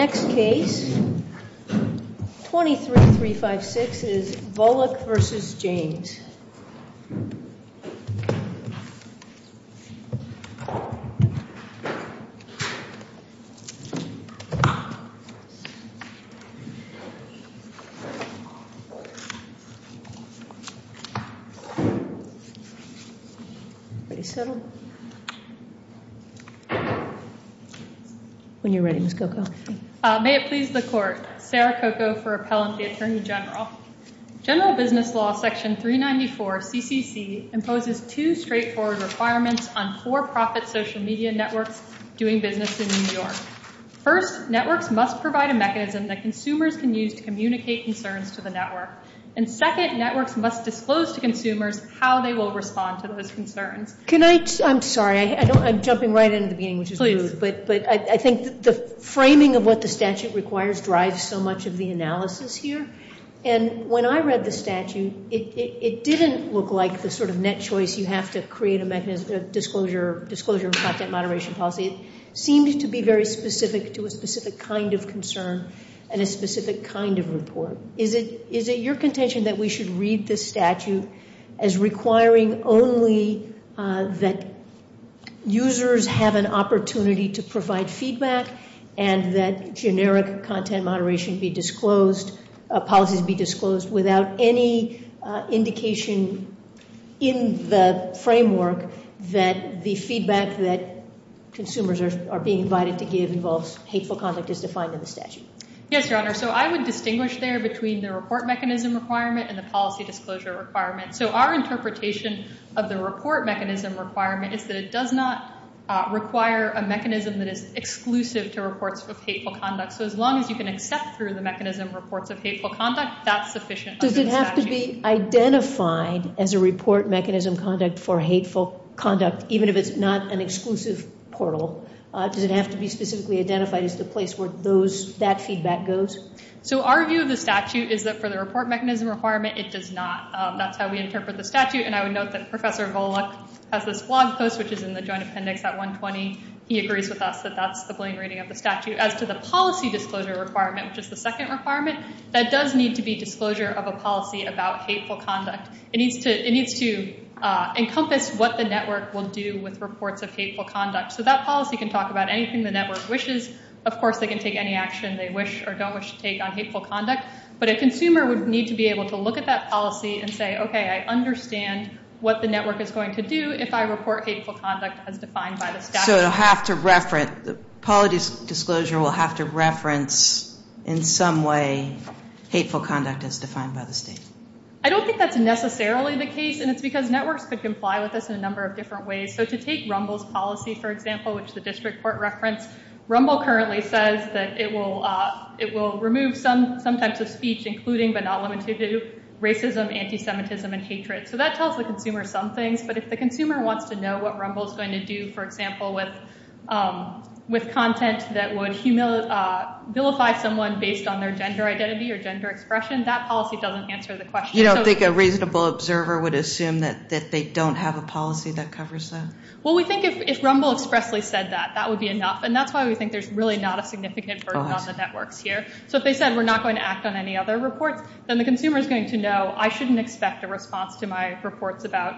Next case, 23-356 is Volokh v. James May it please the Court, Sarah Coco for appellant, the Attorney General. General Business Law Section 394 of CCC imposes two straightforward requirements on for-profit social media networks doing business in New York. First, networks must provide a mechanism that consumers can use to communicate concerns to the network. And second, networks must disclose to consumers how they will respond to those concerns. Can I, I'm sorry, I'm jumping right into the beginning, which is rude, but I think the statute requires, drives so much of the analysis here. And when I read the statute, it didn't look like the sort of net choice you have to create a mechanism of disclosure, disclosure of content moderation policy. It seemed to be very specific to a specific kind of concern and a specific kind of report. Is it, is it your contention that we should read this statute as requiring only that users have an opportunity to provide feedback and that generic content moderation be disclosed, policies be disclosed without any indication in the framework that the feedback that consumers are being invited to give involves hateful conduct as defined in the statute? Yes, Your Honor. So I would distinguish there between the report mechanism requirement and the policy disclosure requirement. So our interpretation of the report mechanism requirement is that it does not require a mechanism that is exclusive to reports of hateful conduct. So as long as you can accept through the mechanism reports of hateful conduct, that's sufficient under the statute. Does it have to be identified as a report mechanism conduct for hateful conduct, even if it's not an exclusive portal? Does it have to be specifically identified as the place where those, that feedback goes? So our view of the statute is that for the report mechanism requirement, it does not. That's how we interpret the statute. And I would note that Professor Volokh has this blog post, which is in the Joint Appendix at 120. He agrees with us that that's the plain reading of the statute. As to the policy disclosure requirement, which is the second requirement, that does need to be disclosure of a policy about hateful conduct. It needs to, it needs to encompass what the network will do with reports of hateful conduct. So that policy can talk about anything the network wishes. Of course, they can take any action they wish or don't wish to take on hateful conduct. But a consumer would need to be able to look at that policy and say, okay, I understand what the network is going to do if I report hateful conduct as defined by the statute. So it'll have to reference, the policy disclosure will have to reference in some way hateful conduct as defined by the state? I don't think that's necessarily the case, and it's because networks could comply with us in a number of different ways. So to take Rumble's policy, for example, which the district court referenced, Rumble currently says that it will remove some types of speech, including but not limited to racism, anti-Semitism, and hatred. So that tells the consumer some things, but if the consumer wants to know what Rumble is going to do, for example, with content that would vilify someone based on their gender identity or gender expression, that policy doesn't answer the question. You don't think a reasonable observer would assume that they don't have a policy that covers that? Well, we think if Rumble expressly said that, that would be enough. And that's why we think there's really not a significant burden on the networks here. So if they said, we're not going to act on any other reports, then the consumer is going to know, I shouldn't expect a response to my reports about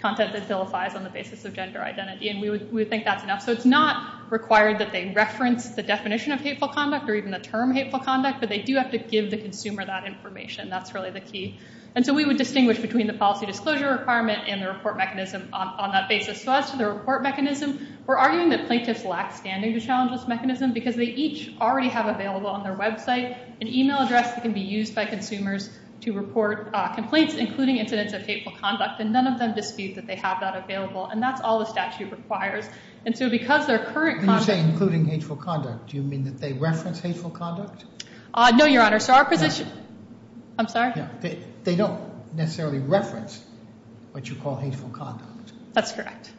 content that vilifies on the basis of gender identity, and we would think that's enough. So it's not required that they reference the definition of hateful conduct or even the term hateful conduct, but they do have to give the consumer that information. That's really the key. And so we would distinguish between the policy disclosure requirement and the report mechanism on that basis. So as to the report mechanism, we're arguing that plaintiffs lack standing to challenge this mechanism because they each already have available on their website an email address that can be used by consumers to report complaints, including incidents of hateful conduct, and none of them dispute that they have that available. And that's all the statute requires. And so because their current content- When you say including hateful conduct, do you mean that they reference hateful conduct? No, Your Honor. So our position- No. I'm sorry? Yeah. They don't necessarily reference what you call hateful conduct. That's correct.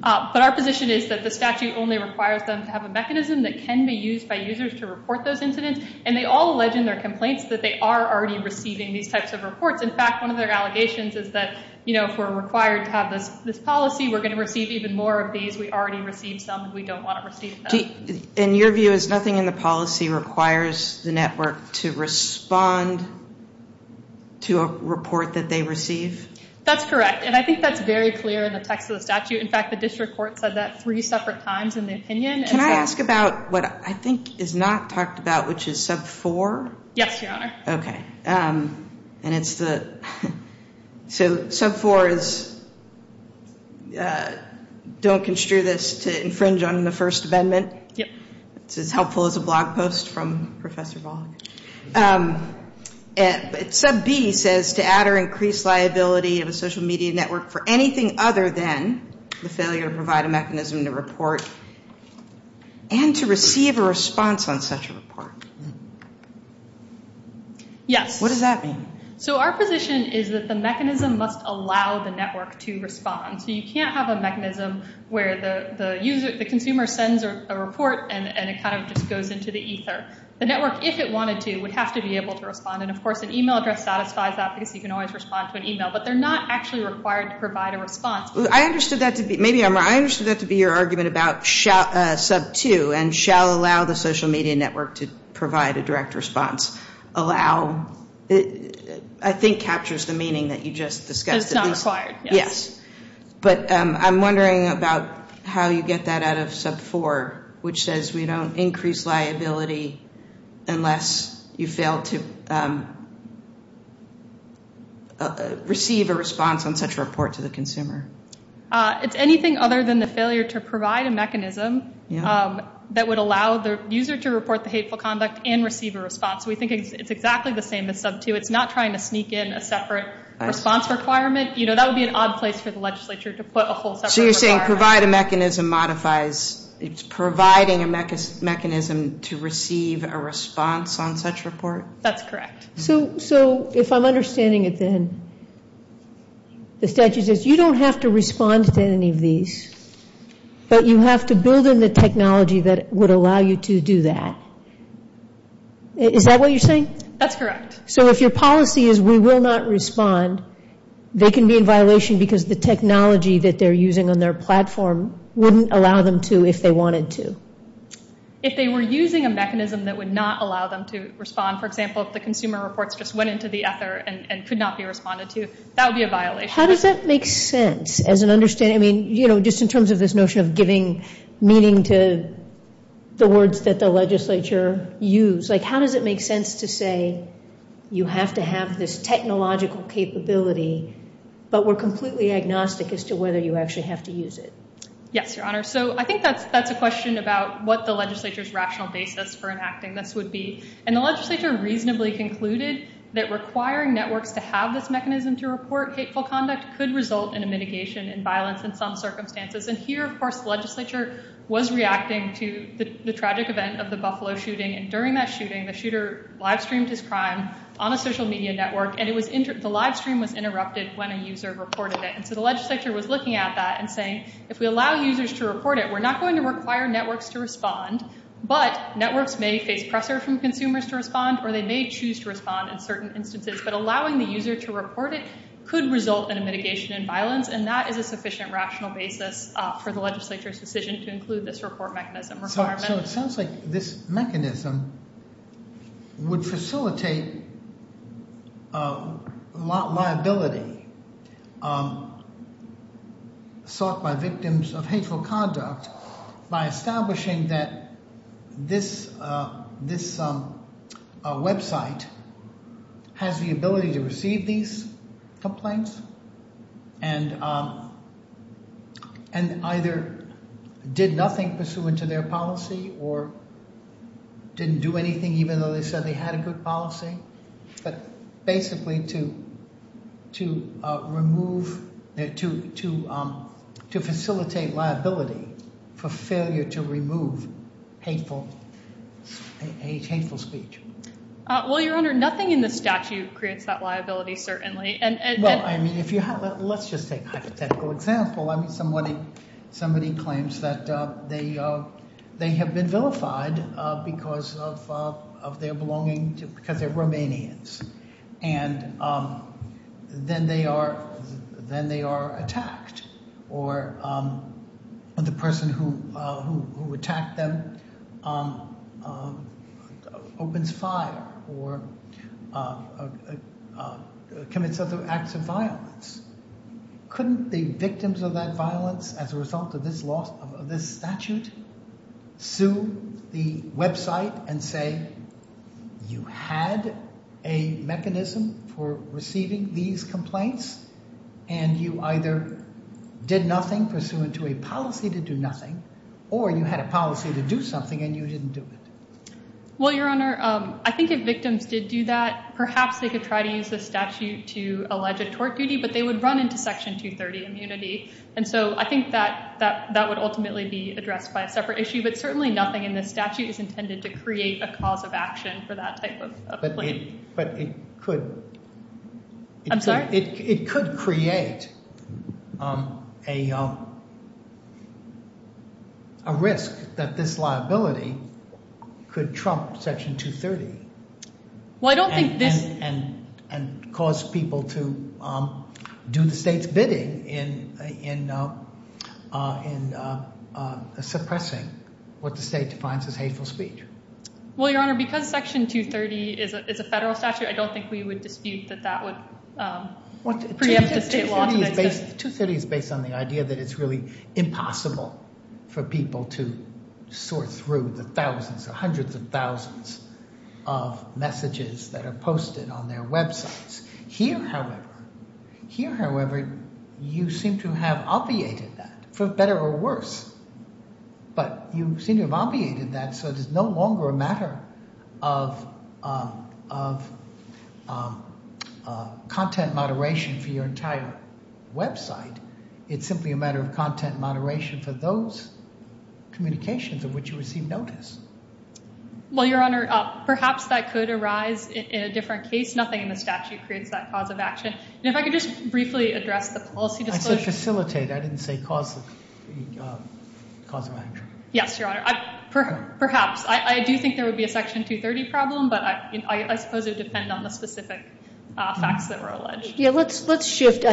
But our position is that the statute only requires them to have a mechanism that can be used by users to report those incidents, and they all allege in their complaints that they are already receiving these types of reports. In fact, one of their allegations is that, you know, if we're required to have this policy, we're going to receive even more of these. We already received some, and we don't want to receive them. And your view is nothing in the policy requires the network to respond to a report that they receive? That's correct. That's correct. And I think that's very clear in the text of the statute. In fact, the district court said that three separate times in the opinion. Can I ask about what I think is not talked about, which is sub 4? Yes, Your Honor. Okay. And it's the- So sub 4 is don't construe this to infringe on the First Amendment. Yep. It's as helpful as a blog post from Professor Volk. Sub B says to add or increase liability of a social media network for anything other than the failure to provide a mechanism to report and to receive a response on such a report. Yes. What does that mean? So our position is that the mechanism must allow the network to respond. So you can't have a mechanism where the consumer sends a report and it kind of just goes into the ether. The network, if it wanted to, would have to be able to respond. And of course, an email address satisfies that because you can always respond to an email. But they're not actually required to provide a response. I understood that to be- Maybe I'm- I understood that to be your argument about sub 2 and shall allow the social media network to provide a direct response. Allow. It, I think, captures the meaning that you just discussed. It's not required. Yes. Yes. But I'm wondering about how you get that out of sub 4, which says we don't increase liability unless you fail to receive a response on such a report to the consumer. It's anything other than the failure to provide a mechanism that would allow the user to report the hateful conduct and receive a response. We think it's exactly the same as sub 2. It's not trying to sneak in a separate response requirement. You know, that would be an odd place for the legislature to put a whole separate requirement. So you're saying provide a mechanism modifies, it's providing a mechanism to receive a response on such report? That's correct. So, so if I'm understanding it then, the statute says you don't have to respond to any of these, but you have to build in the technology that would allow you to do that. Is that what you're saying? That's correct. So if your policy is we will not respond, they can be in violation because the technology that they're using on their platform wouldn't allow them to if they wanted to. If they were using a mechanism that would not allow them to respond, for example, if the consumer reports just went into the ether and could not be responded to, that would be a violation. How does that make sense as an understanding? I mean, you know, just in terms of this notion of giving meaning to the words that the legislature use, like how does it make sense to say you have to have this technological capability, but we're completely agnostic as to whether you actually have to use it? Yes, Your Honor. So I think that's a question about what the legislature's rational basis for enacting this would be. And the legislature reasonably concluded that requiring networks to have this mechanism to report hateful conduct could result in a mitigation and violence in some circumstances. And here, of course, the legislature was reacting to the tragic event of the Buffalo shooting. And during that shooting, the shooter live streamed his crime on a social media network. And the live stream was interrupted when a user reported it. And so the legislature was looking at that and saying, if we allow users to report it, we're not going to require networks to respond. But networks may face pressure from consumers to respond, or they may choose to respond in certain instances. But allowing the user to report it could result in a mitigation and violence. And that is a sufficient rational basis for the legislature's decision to include this report mechanism requirement. So it sounds like this mechanism would facilitate liability sought by victims of hateful conduct by establishing that this website has the ability to receive these complaints and either did nothing pursuant to their policy or didn't do anything, even though they said they had a good policy, but basically to facilitate liability for failure to remove hateful speech. Well, Your Honor, nothing in the statute creates that liability, certainly. Well, I mean, let's just take a hypothetical example. I mean, somebody claims that they have been vilified because of their belonging, because they're Romanians, and then they are attacked, or the person who attacked them opens fire or commits other acts of violence. Couldn't the victims of that violence, as a result of this statute, sue the website and say, you had a mechanism for receiving these complaints, and you either did nothing pursuant to a policy to do nothing, or you had a policy to do something and you didn't do it? Well, Your Honor, I think if victims did do that, perhaps they could try to use the statute to allege a tort duty, but they would run into Section 230 immunity. And so I think that that would ultimately be addressed by a separate issue, but certainly nothing in the statute is intended to create a cause of action for that type of complaint. But it could... I'm sorry? It could create a risk that this liability could trump Section 230. Well, I don't think this... And cause people to do the state's bidding in suppressing what the state defines as hateful speech. Well, Your Honor, because Section 230 is a federal statute, I don't think we would dispute that that would preempt the state law to the extent... 230 is based on the idea that it's really impossible for people to sort through the on their websites. Here, however, you seem to have obviated that, for better or worse. But you seem to have obviated that, so it is no longer a matter of content moderation for your entire website. It's simply a matter of content moderation for those communications of which you receive notice. Well, Your Honor, perhaps that could arise in a different case. Nothing in the statute creates that cause of action. And if I could just briefly address the policy... I said facilitate. I didn't say cause of action. Yes, Your Honor. Perhaps. I do think there would be a Section 230 problem, but I suppose it would depend on the specific facts that were alleged. Yeah, let's shift.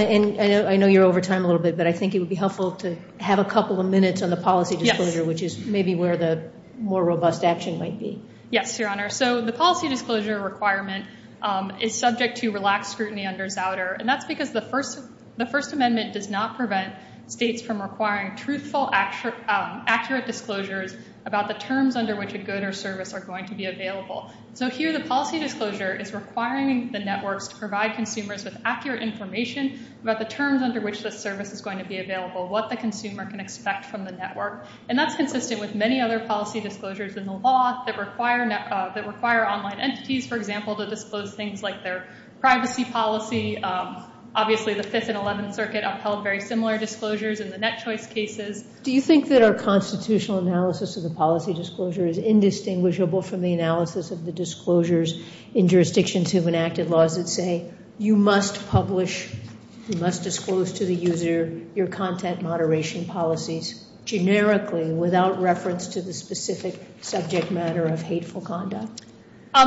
Minutes on the policy disclosure, which is maybe where the more robust action might be. Yes, Your Honor. So the policy disclosure requirement is subject to relaxed scrutiny under Zouder. And that's because the First Amendment does not prevent states from requiring truthful, accurate disclosures about the terms under which a good or service are going to be available. So here, the policy disclosure is requiring the networks to provide consumers with accurate information about the terms under which the service is going to be available, what the network. And that's consistent with many other policy disclosures in the law that require online entities, for example, to disclose things like their privacy policy. Obviously, the Fifth and Eleventh Circuit upheld very similar disclosures in the net choice cases. Do you think that our constitutional analysis of the policy disclosure is indistinguishable from the analysis of the disclosures in jurisdictions who have enacted laws that say, you must publish, you must disclose to the user your content moderation policies generically without reference to the specific subject matter of hateful conduct?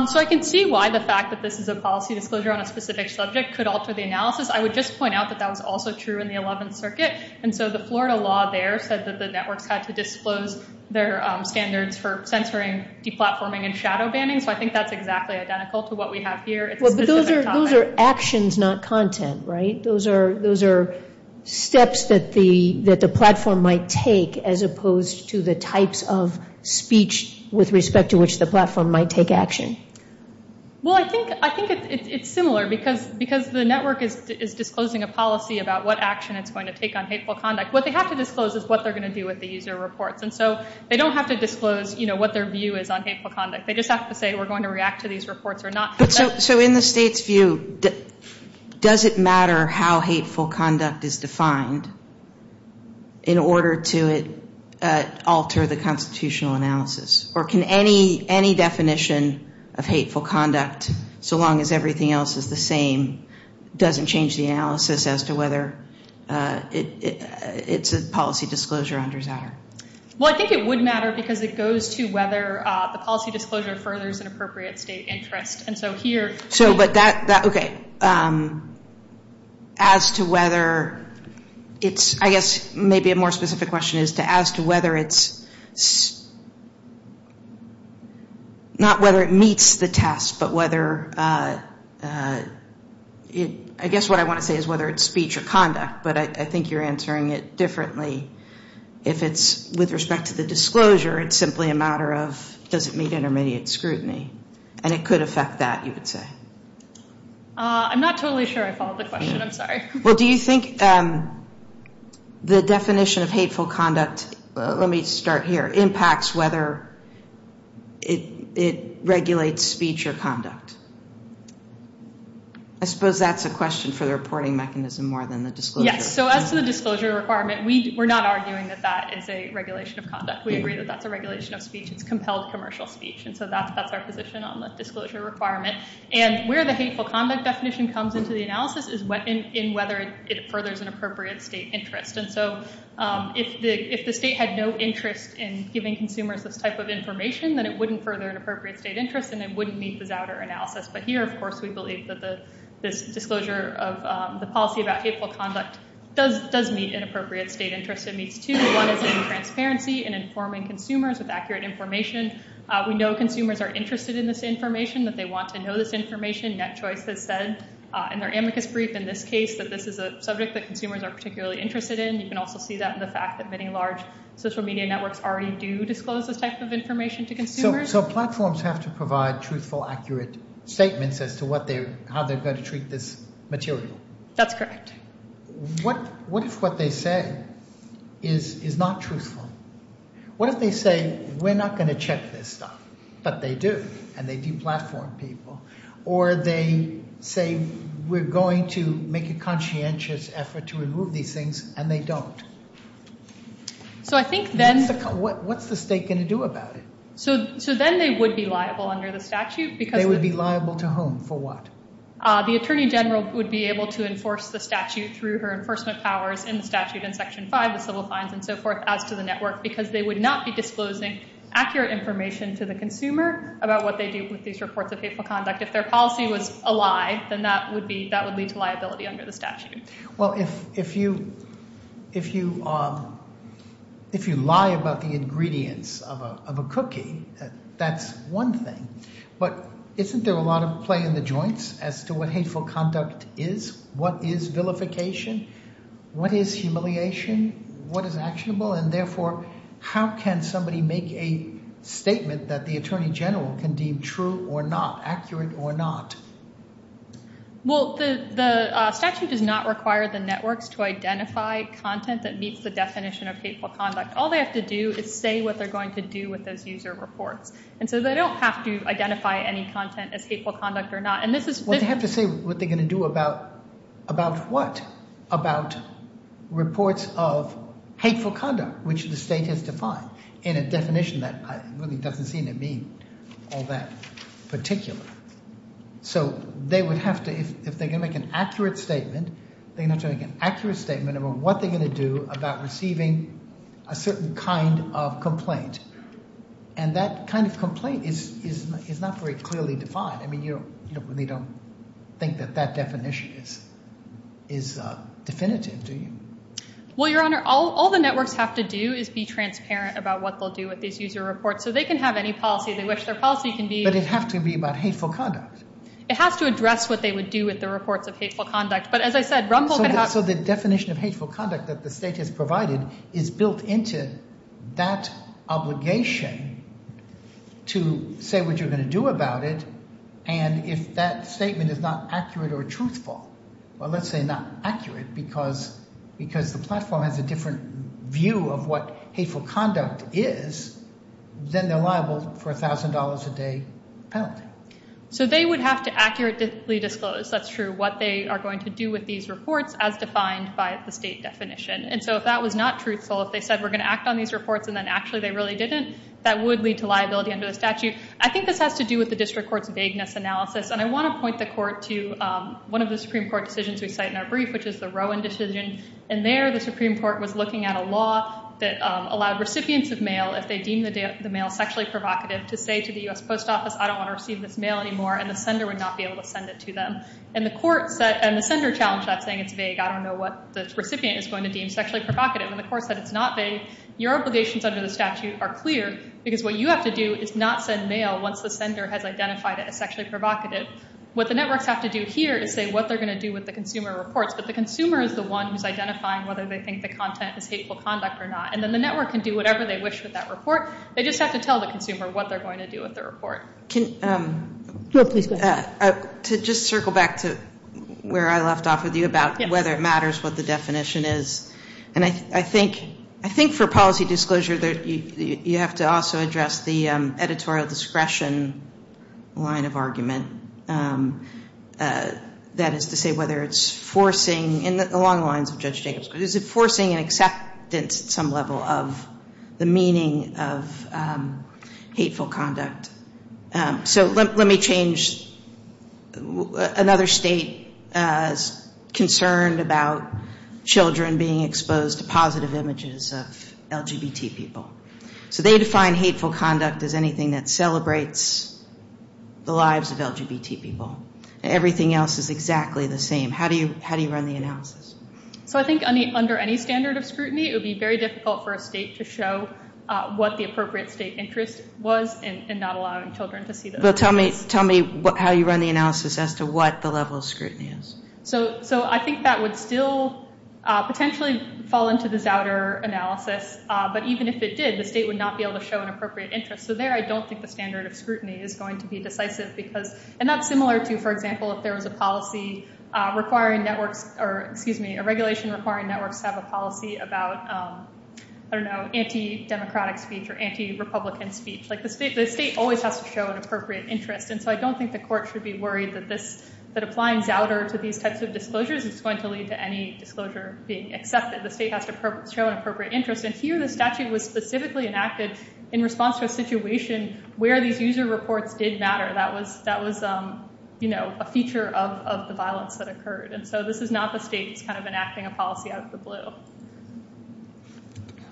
So I can see why the fact that this is a policy disclosure on a specific subject could alter the analysis. I would just point out that that was also true in the Eleventh Circuit. And so the Florida law there said that the networks had to disclose their standards for censoring, deplatforming, and shadow banning. So I think that's exactly identical to what we have here. Those are actions, not content, right? Those are steps that the platform might take as opposed to the types of speech with respect to which the platform might take action. Well, I think it's similar because the network is disclosing a policy about what action it's going to take on hateful conduct. What they have to disclose is what they're going to do with the user reports. And so they don't have to disclose what their view is on hateful conduct. They just have to say, we're going to react to these reports or not. So in the state's view, does it matter how hateful conduct is defined in order to alter the constitutional analysis? Or can any definition of hateful conduct, so long as everything else is the same, doesn't change the analysis as to whether it's a policy disclosure on desire? Well, I think it would matter because it goes to whether the policy disclosure furthers an appropriate state interest. So as to whether it's, I guess, maybe a more specific question is to ask whether it's, not whether it meets the test, but whether, I guess what I want to say is whether it's speech or conduct. But I think you're answering it differently. If it's with respect to the disclosure, it's simply a matter of, does it meet intermediate scrutiny? And it could affect that, you would say. I'm not totally sure I followed the question. I'm sorry. Well, do you think the definition of hateful conduct, let me start here, impacts whether it regulates speech or conduct? I suppose that's a question for the reporting mechanism more than the disclosure. Yes. So as to the disclosure requirement, we're not arguing that that is a regulation of conduct. We agree that that's a regulation of speech. It's compelled commercial speech. And so that's our position on the disclosure requirement. And where the hateful conduct definition comes into the analysis is in whether it furthers an appropriate state interest. And so if the state had no interest in giving consumers this type of information, then it wouldn't further an appropriate state interest, and it wouldn't meet this outer analysis. But here, of course, we believe that this disclosure of the policy about hateful conduct does meet an appropriate state interest. It meets two. One is in transparency and informing consumers with accurate information. We know consumers are interested in this information, that they want to know this information. NetChoice has said in their amicus brief in this case that this is a subject that consumers are particularly interested in. You can also see that in the fact that many large social media networks already do disclose this type of information to consumers. So platforms have to provide truthful, accurate statements as to how they're going to treat this material. That's correct. What if what they say is not truthful? What if they say, we're not going to check this stuff? But they do, and they de-platform people. Or they say, we're going to make a conscientious effort to remove these things, and they don't. So I think then... What's the state going to do about it? So then they would be liable under the statute because... They would be liable to whom? For what? The Attorney General would be able to enforce the statute through her enforcement powers in the statute in Section 5, the civil fines and so forth, as to the network. Because they would not be disclosing accurate information to the consumer about what they do with these reports of hateful conduct. If their policy was a lie, then that would be... That would lead to liability under the statute. Well, if you lie about the ingredients of a cookie, that's one thing. But isn't there a lot of play in the joints as to what hateful conduct is? What is vilification? What is humiliation? What is actionable? And therefore, how can somebody make a statement that the Attorney General can deem true or not, accurate or not? Well, the statute does not require the networks to identify content that meets the definition of hateful conduct. All they have to do is say what they're going to do with those user reports. And so they don't have to identify any content as hateful conduct or not. And this is... They have to say what they're going to do about what? About reports of hateful conduct, which the state has defined in a definition that really doesn't seem to mean all that particular. So they would have to... If they're going to make an accurate statement, they're going to have to make an accurate statement about what they're going to do about receiving a certain kind of complaint. And that kind of complaint is not very clearly defined. I mean, you really don't think that that definition is definitive, do you? Well, Your Honor, all the networks have to do is be transparent about what they'll do with these user reports. So they can have any policy they wish their policy can be. But it has to be about hateful conduct. It has to address what they would do with the reports of hateful conduct. But as I said, Rumpel... So the definition of hateful conduct that the state has provided is built into that obligation to say what you're going to do about it and if that statement is not accurate or truthful, well, let's say not accurate, because the platform has a different view of what hateful conduct is, then they're liable for $1,000 a day penalty. So they would have to accurately disclose, that's true, what they are going to do with these reports as defined by the state definition. And so if that was not truthful, if they said we're going to act on these reports and then actually they really didn't, that would lead to liability under the statute. I think this has to do with the district court's vagueness analysis. And I want to point the court to one of the Supreme Court decisions we cite in our brief, which is the Rowan decision. And there the Supreme Court was looking at a law that allowed recipients of mail, if they deem the mail sexually provocative, to say to the U.S. Post Office, I don't want to receive this mail anymore, and the sender would not be able to send it to them. And the court said... And the sender challenged that saying it's vague. I don't know what the recipient is going to deem sexually provocative. And the court said it's not vague. Your obligations under the statute are clear because what you have to do is not send mail once the sender has identified it as sexually provocative. What the networks have to do here is say what they're going to do with the consumer reports. But the consumer is the one who's identifying whether they think the content is hateful conduct or not. And then the network can do whatever they wish with that report. They just have to tell the consumer what they're going to do with the report. Can I just circle back to where I left off with you about whether it matters what the definition is. And I think for policy disclosure, you have to also address the editorial discretion line of argument. That is to say whether it's forcing... And along the lines of Judge Jacobs, is it forcing an acceptance at some level of the meaning of hateful conduct? So let me change. Another state is concerned about children being exposed to positive images of LGBT people. So they define hateful conduct as anything that celebrates the lives of LGBT people. Everything else is exactly the same. How do you run the analysis? So I think under any standard of scrutiny, it would be very difficult for a state to show what the appropriate state interest was in not allowing children to see those images. Tell me how you run the analysis as to what the level of scrutiny is. So I think that would still potentially fall into the Zouder analysis. But even if it did, the state would not be able to show an appropriate interest. So there, I don't think the standard of scrutiny is going to be decisive because... And that's similar to, for example, if there was a policy requiring networks... Or excuse me, a regulation requiring networks to have a policy about, I don't know, anti-democratic speech or anti-Republican speech. Like the state always has to show an appropriate interest. And so I don't think the court should be worried that applying Zouder to these types of disclosures is going to lead to any disclosure being accepted. The state has to show an appropriate interest. And here, the statute was specifically enacted in response to a situation where these user reports did matter. That was a feature of the violence that occurred. And so this is not the state that's kind of enacting a policy out of the blue.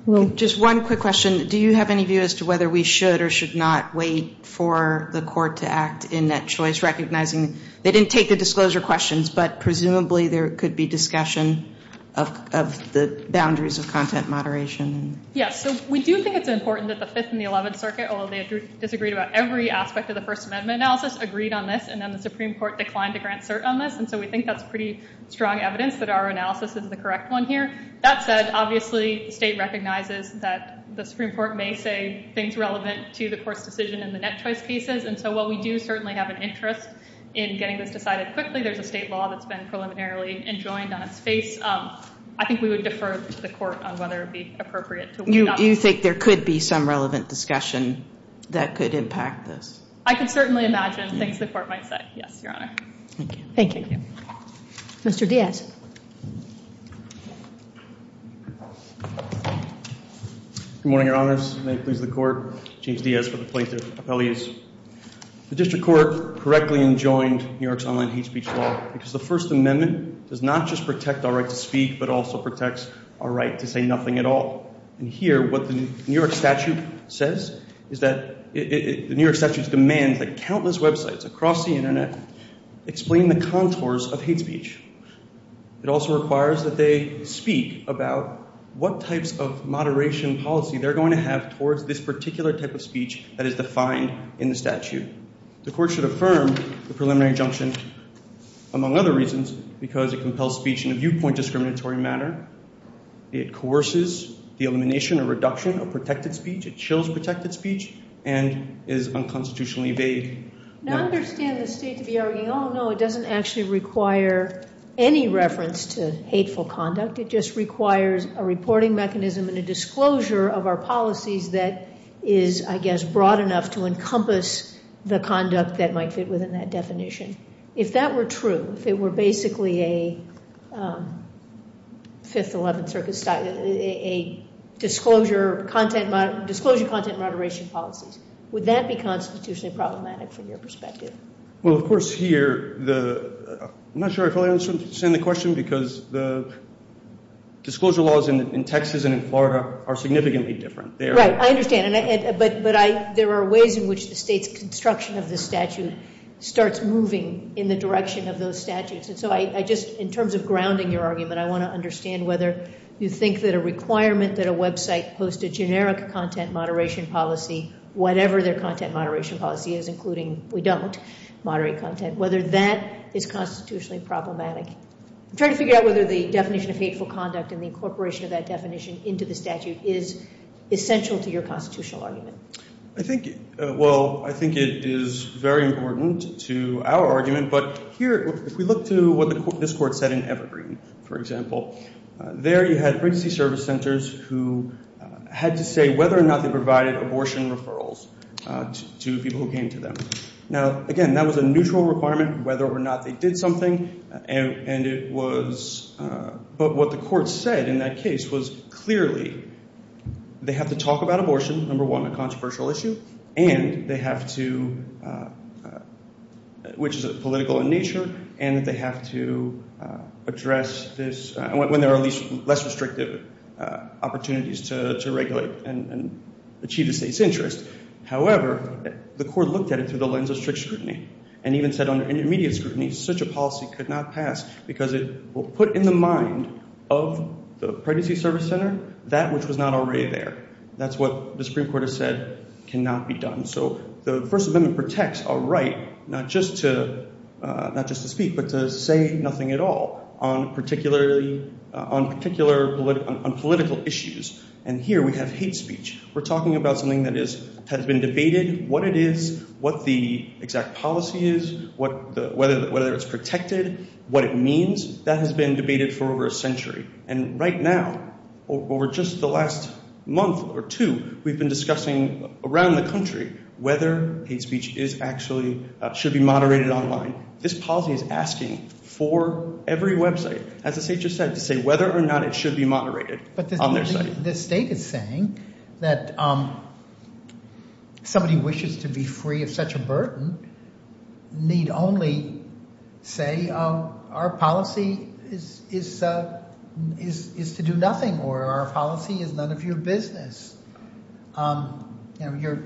Well, just one quick question. Do you have any view as to whether we should or should not wait for the court to act in that choice, they didn't take the disclosure questions, but presumably there could be discussion of the boundaries of content moderation? Yes. So we do think it's important that the Fifth and the Eleventh Circuit, although they disagreed about every aspect of the First Amendment analysis, agreed on this. And then the Supreme Court declined to grant cert on this. And so we think that's pretty strong evidence that our analysis is the correct one here. That said, obviously, the state recognizes that the Supreme Court may say things relevant to the court's decision in the net choice cases. And so while we do certainly have an interest in getting this decided quickly, there's a state law that's been preliminarily enjoined on its face. I think we would defer to the court on whether it'd be appropriate to wait. Do you think there could be some relevant discussion that could impact this? I can certainly imagine things the court might say. Yes, Your Honor. Thank you. Thank you. Mr. Diaz. Good morning, Your Honors. May it please the Court. James Diaz for the plaintiff. Appellees, the district court correctly enjoined New York's online hate speech law because the First Amendment does not just protect our right to speak, but also protects our right to say nothing at all. And here, what the New York statute says is that the New York statute demands that countless websites across the internet explain the contours of hate speech. It also requires that they speak about what types of moderation policy they're going to have towards this particular type of speech that is defined in the statute. The court should affirm the preliminary injunction, among other reasons, because it compels speech in a viewpoint discriminatory manner, it coerces the elimination or reduction of protected speech, it chills protected speech, and is unconstitutionally vague. Now, I understand the state to be arguing, oh, no, it doesn't actually require any reference to hateful conduct. It just requires a reporting mechanism and a disclosure of our policies that is, I guess, broad enough to encompass the conduct that might fit within that definition. If that were true, if it were basically a 5th, 11th Circuit style, a disclosure content moderation policies, would that be constitutionally problematic from your perspective? Well, of course, here, I'm not sure I fully understand the question, because the disclosure laws in Texas and in Florida are significantly different. Right, I understand. But there are ways in which the state's construction of the statute starts moving in the direction of those statutes. And so I just, in terms of grounding your argument, I want to understand whether you think that a requirement that a website post a generic content moderation policy, whatever their content moderation policy is, including we don't moderate content, whether that is constitutionally problematic. I'm trying to figure out whether the definition of hateful conduct and the incorporation of that definition into the statute is essential to your constitutional argument. I think, well, I think it is very important to our argument. But here, if we look to what this court said in Evergreen, for example, there you had pregnancy service centers who had to say whether or not they provided abortion referrals to people who came to them. Now, again, that was a neutral requirement whether or not they did something. And it was, but what the court said in that case was clearly they have to talk about abortion, number one, a controversial issue, and they have to, which is political in nature, and that they have to address this when there are at least less restrictive opportunities to regulate and achieve the state's interest. However, the court looked at it through the lens of strict scrutiny and even said under intermediate scrutiny such a policy could not pass because it will put in the mind of the pregnancy service center that which was not already there. That's what the Supreme Court has said cannot be done. So the First Amendment protects a right not just to speak, but to say nothing at all on particular political issues. And here we have hate speech. We're talking about something that has been debated, what it is, what the exact policy is, whether it's protected, what it means, that has been debated for over a century. And right now, over just the last month or two, we've been discussing around the country whether hate speech is actually, should be moderated online. This policy is asking for every website, as the state just said, to say whether or not it should be moderated on their site. But the state is saying that somebody wishes to be free of such a burden need only say our policy is to do nothing or our policy is none of your business. You know,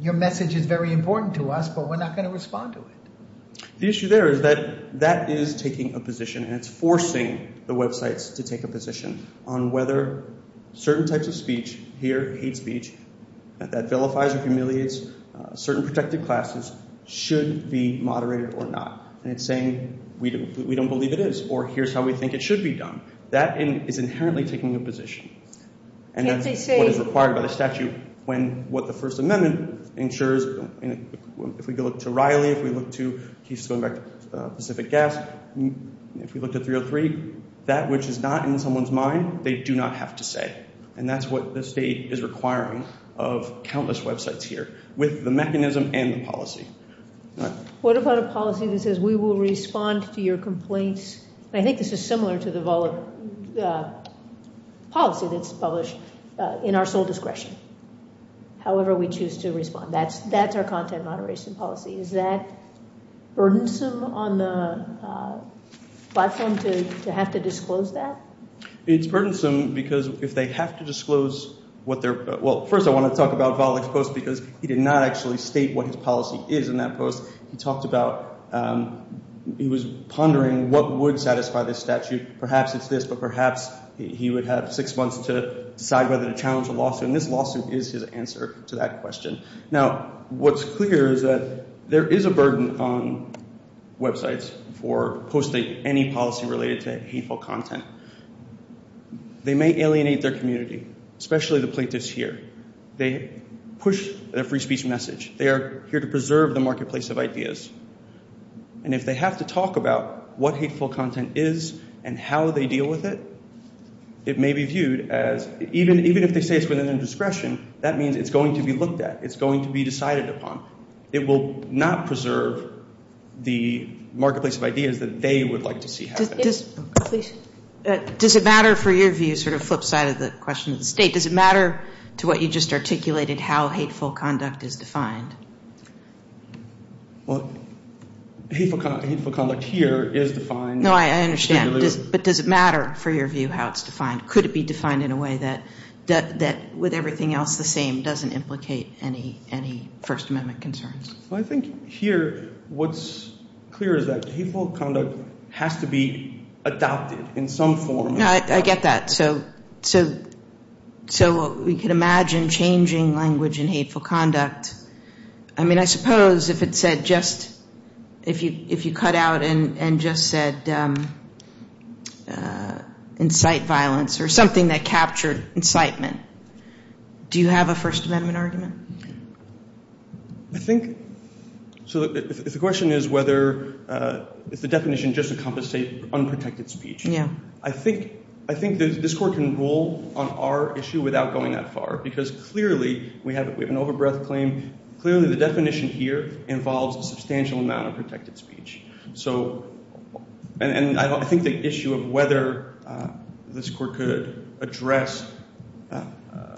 your message is very important to us, but we're not going to respond to it. The issue there is that that is taking a position and it's forcing the websites to take a position on whether certain types of speech here, hate speech, that vilifies or humiliates certain protected classes, should be moderated or not. And it's saying, we don't believe it is, or here's how we think it should be done. That is inherently taking a position. And that's what is required by the statute, when what the First Amendment ensures, if we go to Riley, if we look to Pacific Gas, if we look at 303, that which is not in someone's mind, they do not have to say. And that's what the state is requiring of countless websites here with the mechanism and the policy. What about a policy that says we will respond to your complaints? I think this is similar to the policy that's published in our sole discretion. However, we choose to respond. That's our content moderation policy. Is that burdensome on the platform to have to disclose that? It's burdensome because if they have to disclose what they're, well, first, I want to talk about Volokh's post because he did not actually state what his policy is in that post. He talked about, he was pondering what would satisfy this statute. Perhaps it's this, but perhaps he would have six months to decide whether to challenge a lawsuit. And this lawsuit is his answer to that question. Now, what's clear is that there is a burden on websites for posting any policy related to hateful content. They may alienate their community, especially the plaintiffs here. They push their free speech message. They are here to preserve the marketplace of ideas. And if they have to talk about what hateful content is and how they deal with it, it may be viewed as, even if they say it's within their discretion, that means it's going to be looked at. It's going to be decided upon. It will not preserve the marketplace of ideas that they would like to see happen. Does it matter, for your view, sort of flip side of the question of the state, does it matter to what you just articulated how hateful conduct is defined? Well, hateful conduct here is defined. No, I understand. But does it matter, for your view, how it's defined? Could it be defined in a way that, with everything else the same, doesn't implicate any First Amendment concerns? Well, I think here what's clear is that hateful conduct has to be adopted in some form. No, I get that. So we could imagine changing language in hateful conduct. I mean, I suppose if it said just, if you cut out and just said, incite violence or something that captured incitement, do you have a First Amendment argument? I think, so if the question is whether, if the definition just encompassed, say, unprotected speech. Yeah. I think this Court can rule on our issue without going that far. Because clearly, we have an over-breath claim. Clearly, the definition here involves a substantial amount of protected speech. So, and I think the issue of whether this Court could address the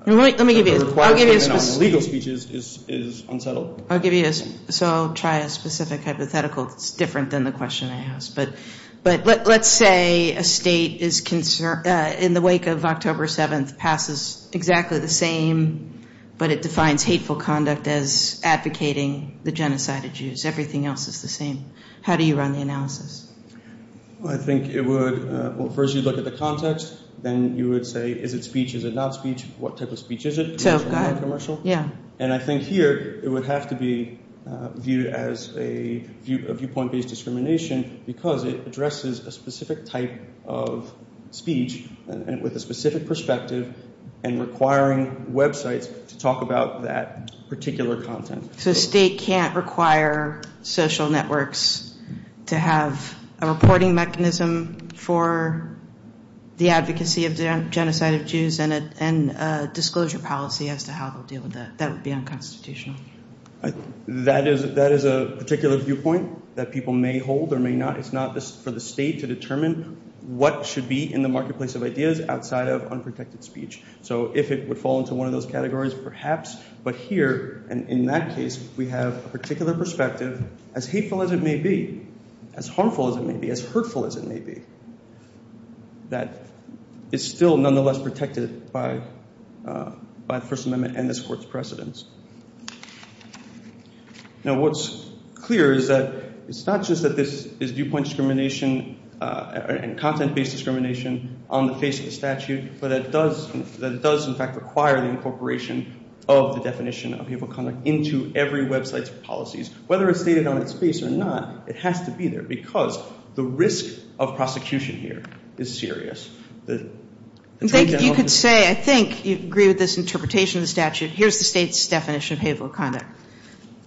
request for an unlegal speech is unsettled. I'll give you a, so I'll try a specific hypothetical that's different than the question I asked. But let's say a state is, in the wake of October 7th, passes exactly the same, but it defines hateful conduct as advocating the genocide of Jews. Everything else is the same. How do you run the analysis? Well, I think it would, well, first you'd look at the context. Then you would say, is it speech? Is it not speech? What type of speech is it? So, go ahead. Commercial? Yeah. And I think here, it would have to be viewed as a viewpoint-based discrimination because it addresses a specific type of speech with a specific perspective and requiring websites to talk about that particular content. So, a state can't require social networks to have a reporting mechanism for the advocacy of the genocide of Jews and a disclosure policy as to how they'll deal with that. That would be unconstitutional. That is a particular viewpoint that people may hold or may not. It's not for the state to determine what should be in the marketplace of ideas outside of unprotected speech. So, if it would fall into one of those categories, perhaps. But here, in that case, we have a particular perspective, as hateful as it may be, as harmful as it may be, as hurtful as it may be, that is still nonetheless protected by the First Amendment and this Court's precedents. Now, what's clear is that it's not just that this is viewpoint discrimination and content-based discrimination on the face of the statute, but that it does, in fact, require the incorporation of the definition of hateful conduct into every website's policies. Whether it's stated on its face or not, it has to be there because the risk of prosecution here is serious. And I think you could say, I think you agree with this interpretation of the statute. Here's the state's definition of hateful conduct.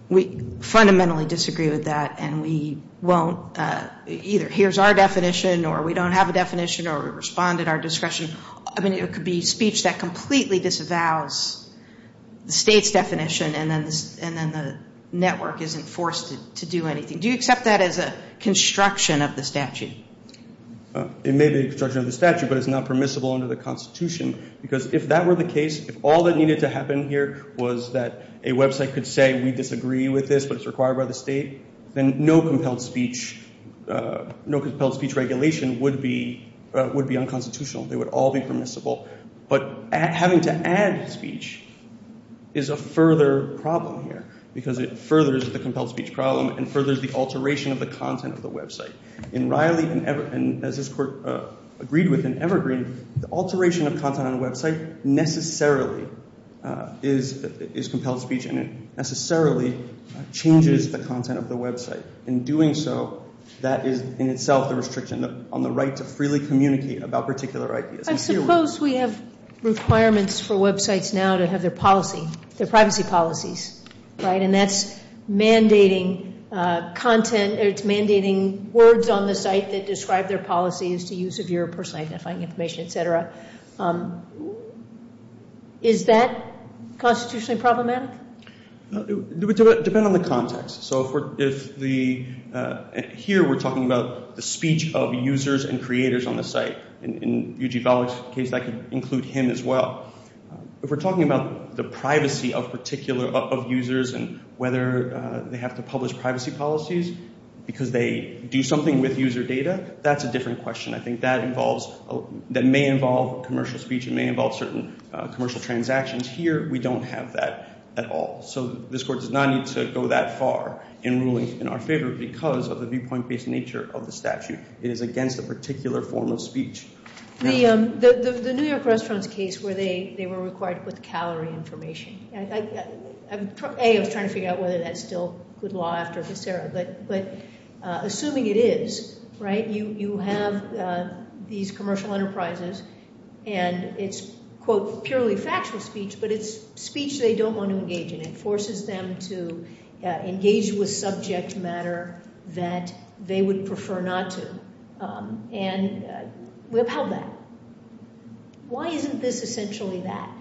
We fundamentally disagree with that and we won't. Either here's our definition or we don't have a definition or we respond at our discretion. I mean, it could be speech that completely disavows the state's definition and then the network isn't forced to do anything. Do you accept that as a construction of the statute? It may be a construction of the statute, but it's not permissible under the Constitution. Because if that were the case, if all that needed to happen here was that a website could say, we disagree with this, but it's required by the state, then no compelled speech regulation would be unconstitutional. They would all be permissible. But having to add speech is a further problem here because it furthers the compelled speech problem and furthers the alteration of the content of the website. In Riley and Evergreen, as this Court agreed with in Evergreen, the alteration of content on a website necessarily is compelled speech and it necessarily changes the content of the website. In doing so, that is in itself the restriction on the right to freely communicate about particular ideas. I suppose we have requirements for websites now to have their privacy policies. And that's mandating words on the site that describe their policies to use of your personal identifying information, et cetera. Is that constitutionally problematic? It would depend on the context. So here we're talking about the speech of users and creators on the site. In Yuji Balog's case, that could include him as well. If we're talking about the privacy of users and whether they have to publish privacy policies because they do something with user data, that's a different question. I think that may involve commercial speech. It may involve certain commercial transactions. Here, we don't have that at all. This Court does not need to go that far in ruling in our favor because of the viewpoint-based nature of the statute. It is against a particular form of speech. The New York restaurant's case where they were required with calorie information. A, I was trying to figure out whether that's still good law after this era. But assuming it is, you have these commercial enterprises and it's, quote, purely factual speech, but it's speech they don't want to engage in. It forces them to engage with subject matter that they would prefer not to. And we upheld that. Why isn't this essentially that?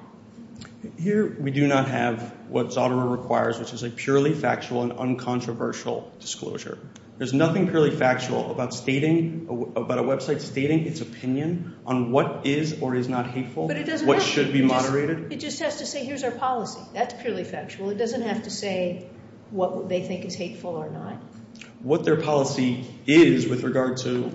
Here, we do not have what Zotero requires, which is a purely factual and uncontroversial disclosure. There's nothing purely factual about a website stating its opinion on what is or is not hateful, what should be moderated. It just has to say, here's our policy. That's purely factual. It doesn't have to say what they think is hateful or not. What their policy is with regard to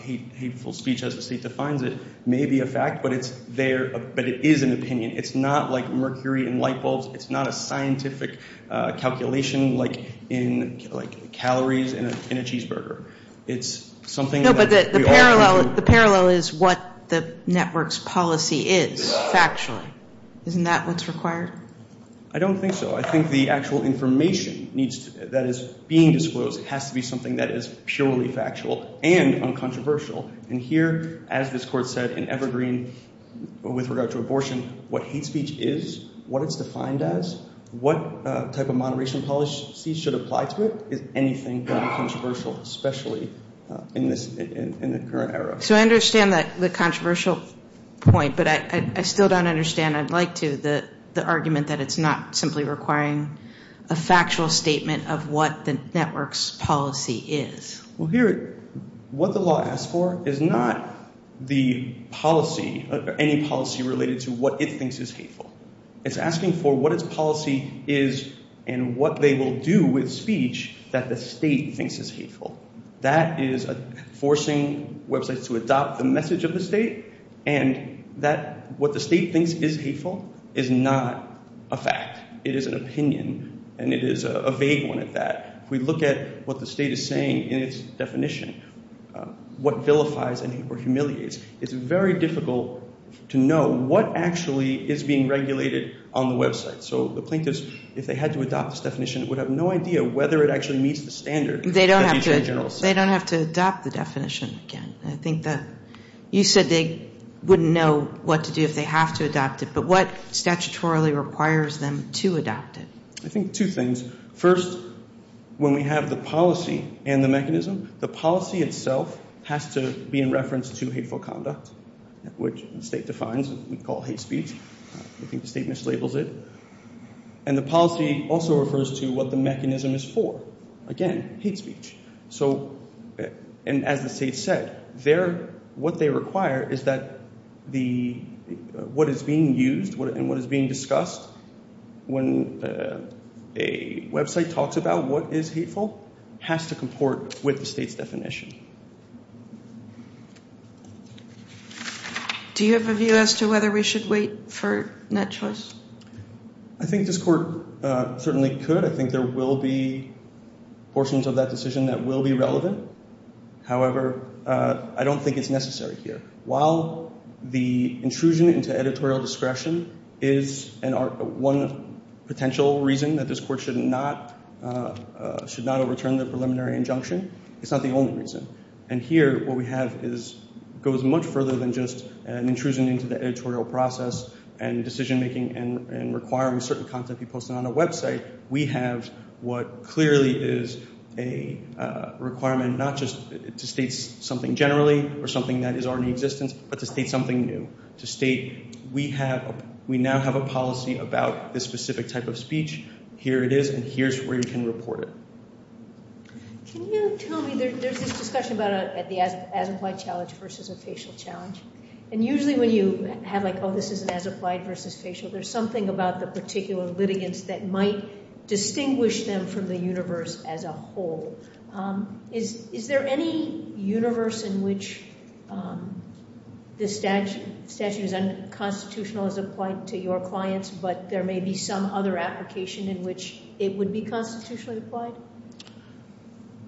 hateful speech as the state defines it may be a fact, but it is an opinion. It's not like mercury in light bulbs. It's not a scientific calculation like in calories in a cheeseburger. It's something that we all agree to. No, but the parallel is what the network's policy is, factually. Isn't that what's required? I don't think so. I think the actual information that is being disclosed has to be something that is purely factual and uncontroversial. And here, as this Court said in Evergreen with regard to abortion, what hate speech is, what it's defined as, what type of moderation policy should apply to it is anything but controversial, especially in the current era. So I understand the controversial point, but I still don't understand. I'd like to, the argument that it's not simply requiring a factual statement of what the network's policy is. Well, here, what the law asks for is not the policy, any policy related to what it thinks is hateful. It's asking for what its policy is and what they will do with speech that the state thinks is hateful. That is forcing websites to adopt the message of the state and that what the state thinks is hateful is not a fact. It is an opinion and it is a vague one at that. If we look at what the state is saying in its definition, what vilifies or humiliates, it's very difficult to know what actually is being regulated on the website. So the plaintiffs, if they had to adopt this definition, would have no idea whether it actually meets the standard. They don't have to adopt the definition again. I think that you said they wouldn't know what to do if they have to adopt it, but what statutorily requires them to adopt it? I think two things. First, when we have the policy and the mechanism, the policy itself has to be in reference to hateful conduct, which the state defines, we call hate speech. I think the state mislabels it. And the policy also refers to what the mechanism is for. Again, hate speech. So, and as the state said, what they require is that what is being used and what is being discussed when a website talks about what is hateful has to comport with the state's definition. Do you have a view as to whether we should wait for net choice? I think this court certainly could. I think there will be portions of that decision that will be relevant. However, I don't think it's necessary here. While the intrusion into editorial discretion is one potential reason that this court should not overturn the preliminary injunction, it's not the only reason. And here, what we have goes much further than just an intrusion into the editorial process and decision making and requiring certain content be posted on a website. We have what clearly is a requirement not just to state something generally or something that is already in existence, but to state something new. To state we now have a policy about this specific type of speech. Here it is, and here's where you can report it. Can you tell me, there's this discussion about the as-applied challenge versus a facial challenge. And usually when you have like, oh, this is an as-applied versus facial, there's something about the particular litigants that might distinguish them from the universe as a whole. Is there any universe in which this statute is unconstitutional as applied to your clients, but there may be some other application in which it would be constitutionally applied?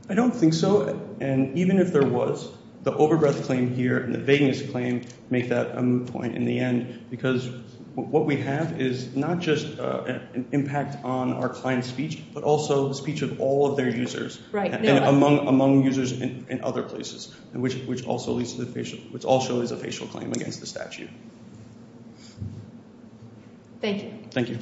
I don't think so. And even if there was, the overbreath claim here and the vagueness claim make that a moot point in the end. Because what we have is not just an impact on our client's speech, but also the speech of all of their users and among users in other places. And which also leads to the facial, which also is a facial claim against the statute. Thank you. Thank you.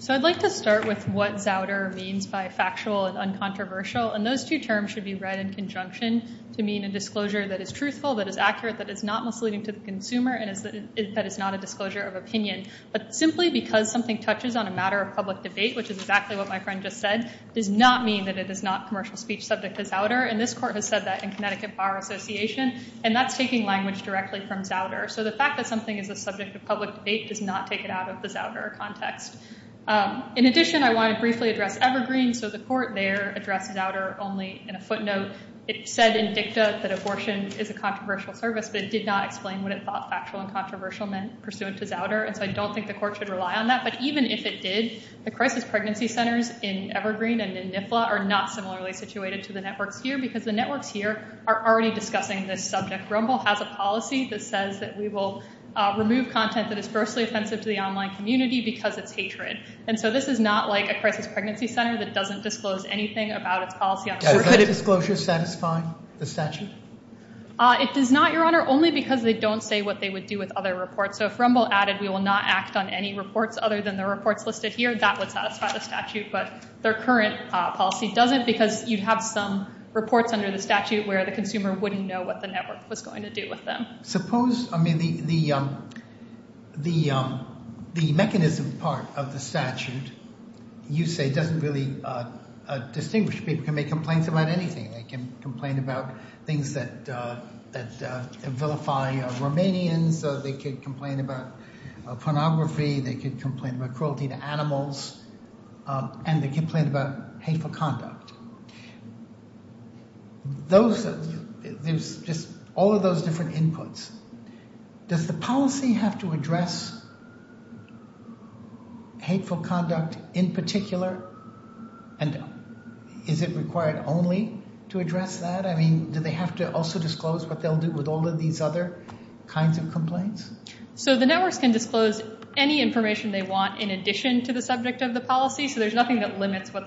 So I'd like to start with what zowder means by factual and uncontroversial. And those two terms should be read in conjunction to mean a disclosure that is truthful, that is accurate, that is not misleading to the consumer, and that is not a disclosure of opinion. But simply because something touches on a matter of public debate, which is exactly what my friend just said, does not mean that it is not commercial speech subject to zowder. And this court has said that in Connecticut Bar Association. And that's taking language directly from zowder. So the fact that something is a subject of public debate does not take it out of the zowder context. In addition, I want to briefly address Evergreen. So the court there addressed zowder only in a footnote. It said in dicta that abortion is a controversial service, but it did not explain what it thought factual and controversial meant pursuant to zowder. And so I don't think the court should rely on that. But even if it did, the crisis pregnancy centers in Evergreen and in NIFLA are not similarly situated to the networks here. Because the networks here are already discussing this subject. Rumble has a policy that says that we will remove content that is grossly offensive to the online community because it's hatred. And so this is not like a crisis pregnancy center that doesn't disclose anything about its policy. Does that disclosure satisfy the statute? It does not, Your Honor, only because they don't say what they would do with other reports. So if Rumble added we will not act on any reports other than the reports listed here, that would satisfy the statute. But their current policy doesn't because you'd have some reports under the statute where the consumer wouldn't know what the network was going to do with them. Suppose, I mean, the mechanism part of the statute, you say, doesn't really distinguish. People can make complaints about anything. They can complain about things that vilify Romanians. They could complain about pornography. They could complain about cruelty to animals. And they complain about hateful conduct. Those, there's just all of those different inputs. Does the policy have to address hateful conduct in particular? And is it required only to address that? I mean, do they have to also disclose what they'll do with all of these other kinds of complaints? So the networks can disclose any information they want in addition to the subject of the policy. But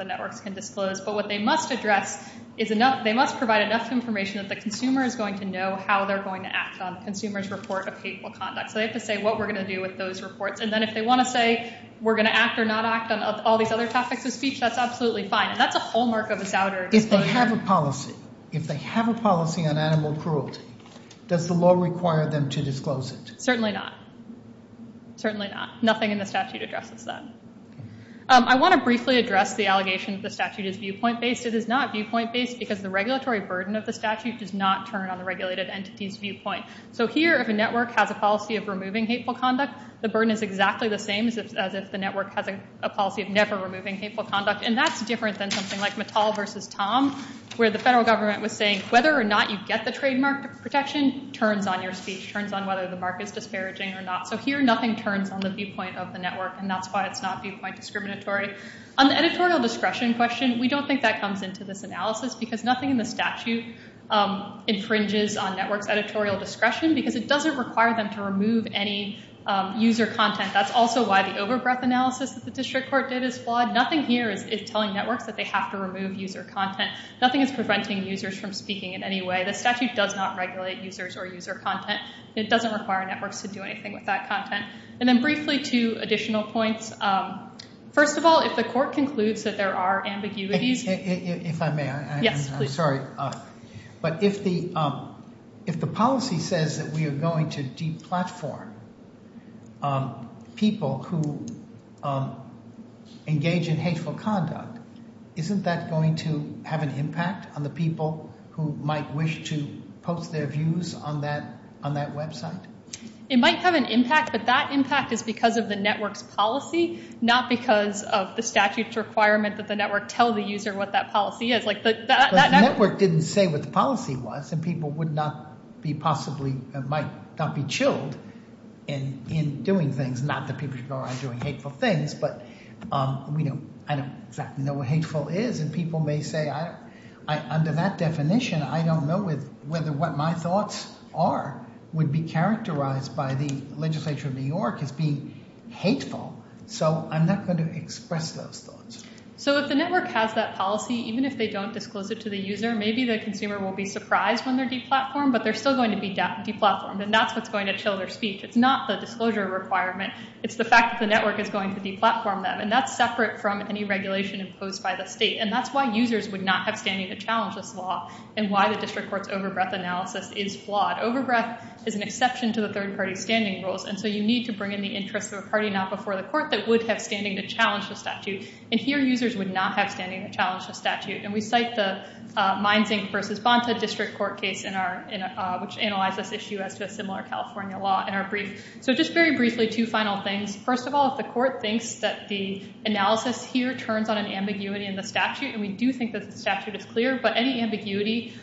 what they must address is enough, they must provide enough information that the consumer is going to know how they're going to act on the consumer's report of hateful conduct. So they have to say what we're going to do with those reports. And then if they want to say we're going to act or not act on all these other topics of speech, that's absolutely fine. And that's a hallmark of a souder. If they have a policy, if they have a policy on animal cruelty, does the law require them to disclose it? Certainly not. Certainly not. Nothing in the statute addresses that. I want to briefly address the allegation that the statute is viewpoint-based. It is not viewpoint-based because the regulatory burden of the statute does not turn on the regulated entity's viewpoint. So here, if a network has a policy of removing hateful conduct, the burden is exactly the same as if the network has a policy of never removing hateful conduct. And that's different than something like Mattel versus Tom, where the federal government was saying whether or not you get the trademark protection turns on your speech, turns on whether the mark is disparaging or not. So here, nothing turns on the viewpoint of the network. And that's why it's not viewpoint-discriminatory. On the editorial discretion question, we don't think that comes into this analysis because nothing in the statute infringes on networks' editorial discretion because it doesn't require them to remove any user content. That's also why the overbreath analysis that the district court did is flawed. Nothing here is telling networks that they have to remove user content. Nothing is preventing users from speaking in any way. The statute does not regulate users or user content. It doesn't require networks to do anything with that content. And then briefly, two additional points. First of all, if the court concludes that there are ambiguities... If I may, I'm sorry. But if the policy says that we are going to de-platform people who engage in hateful conduct, isn't that going to have an impact on the people who might wish to post their views on that website? It might have an impact, but that impact is because of the network's policy, not because of the statute's requirement that the network tell the user what that policy is. But the network didn't say what the policy was, and people might not be chilled in doing things. Not that people should go around doing hateful things, but I don't exactly know what hateful is. And people may say, under that definition, I don't know whether what my thoughts are would be characterized by the legislature of New York as being hateful. So I'm not going to express those thoughts. So if the network has that policy, even if they don't disclose it to the user, maybe the consumer will be surprised when they're de-platformed, but they're still going to be de-platformed. And that's what's going to chill their speech. It's not the disclosure requirement. It's the fact that the network is going to de-platform them. And that's separate from any regulation imposed by the state. And that's why users would not have standing to challenge this law and why the district court's over-breath analysis is flawed. Over-breath is an exception to the third-party standing rules. And so you need to bring in the interests of a party not before the court that would have standing to challenge the statute. And here, users would not have standing to challenge the statute. And we cite the Meinzing versus Bonta district court case, which analyzed this issue as to a similar California law in our brief. So just very briefly, two final things. First of all, if the court thinks that the analysis here turns on an ambiguity in the statute, and we do think that the statute is clear, but any ambiguity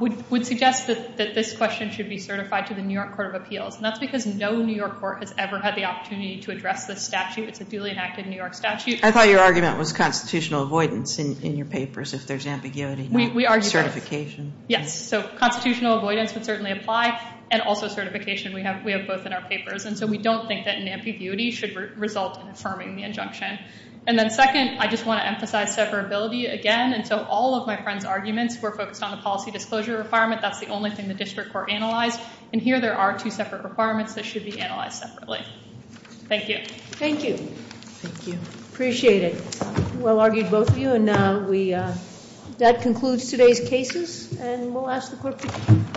would suggest that this question should be certified to the New York Court of Appeals. And that's because no New York court has ever had the opportunity to address this statute. It's a duly enacted New York statute. I thought your argument was constitutional avoidance in your papers, if there's ambiguity and certification. Yes. So constitutional avoidance would certainly apply, and also certification. We have both in our papers. And so we don't think that an ambiguity should result in affirming the injunction. And then second, I just want to emphasize separability again. And so all of my friend's arguments were focused on the policy disclosure requirement. That's the only thing the district court analyzed. And here there are two separate requirements that should be analyzed separately. Thank you. Thank you. Thank you. Appreciate it. Well argued, both of you. And that concludes today's cases. And we'll ask the court to close.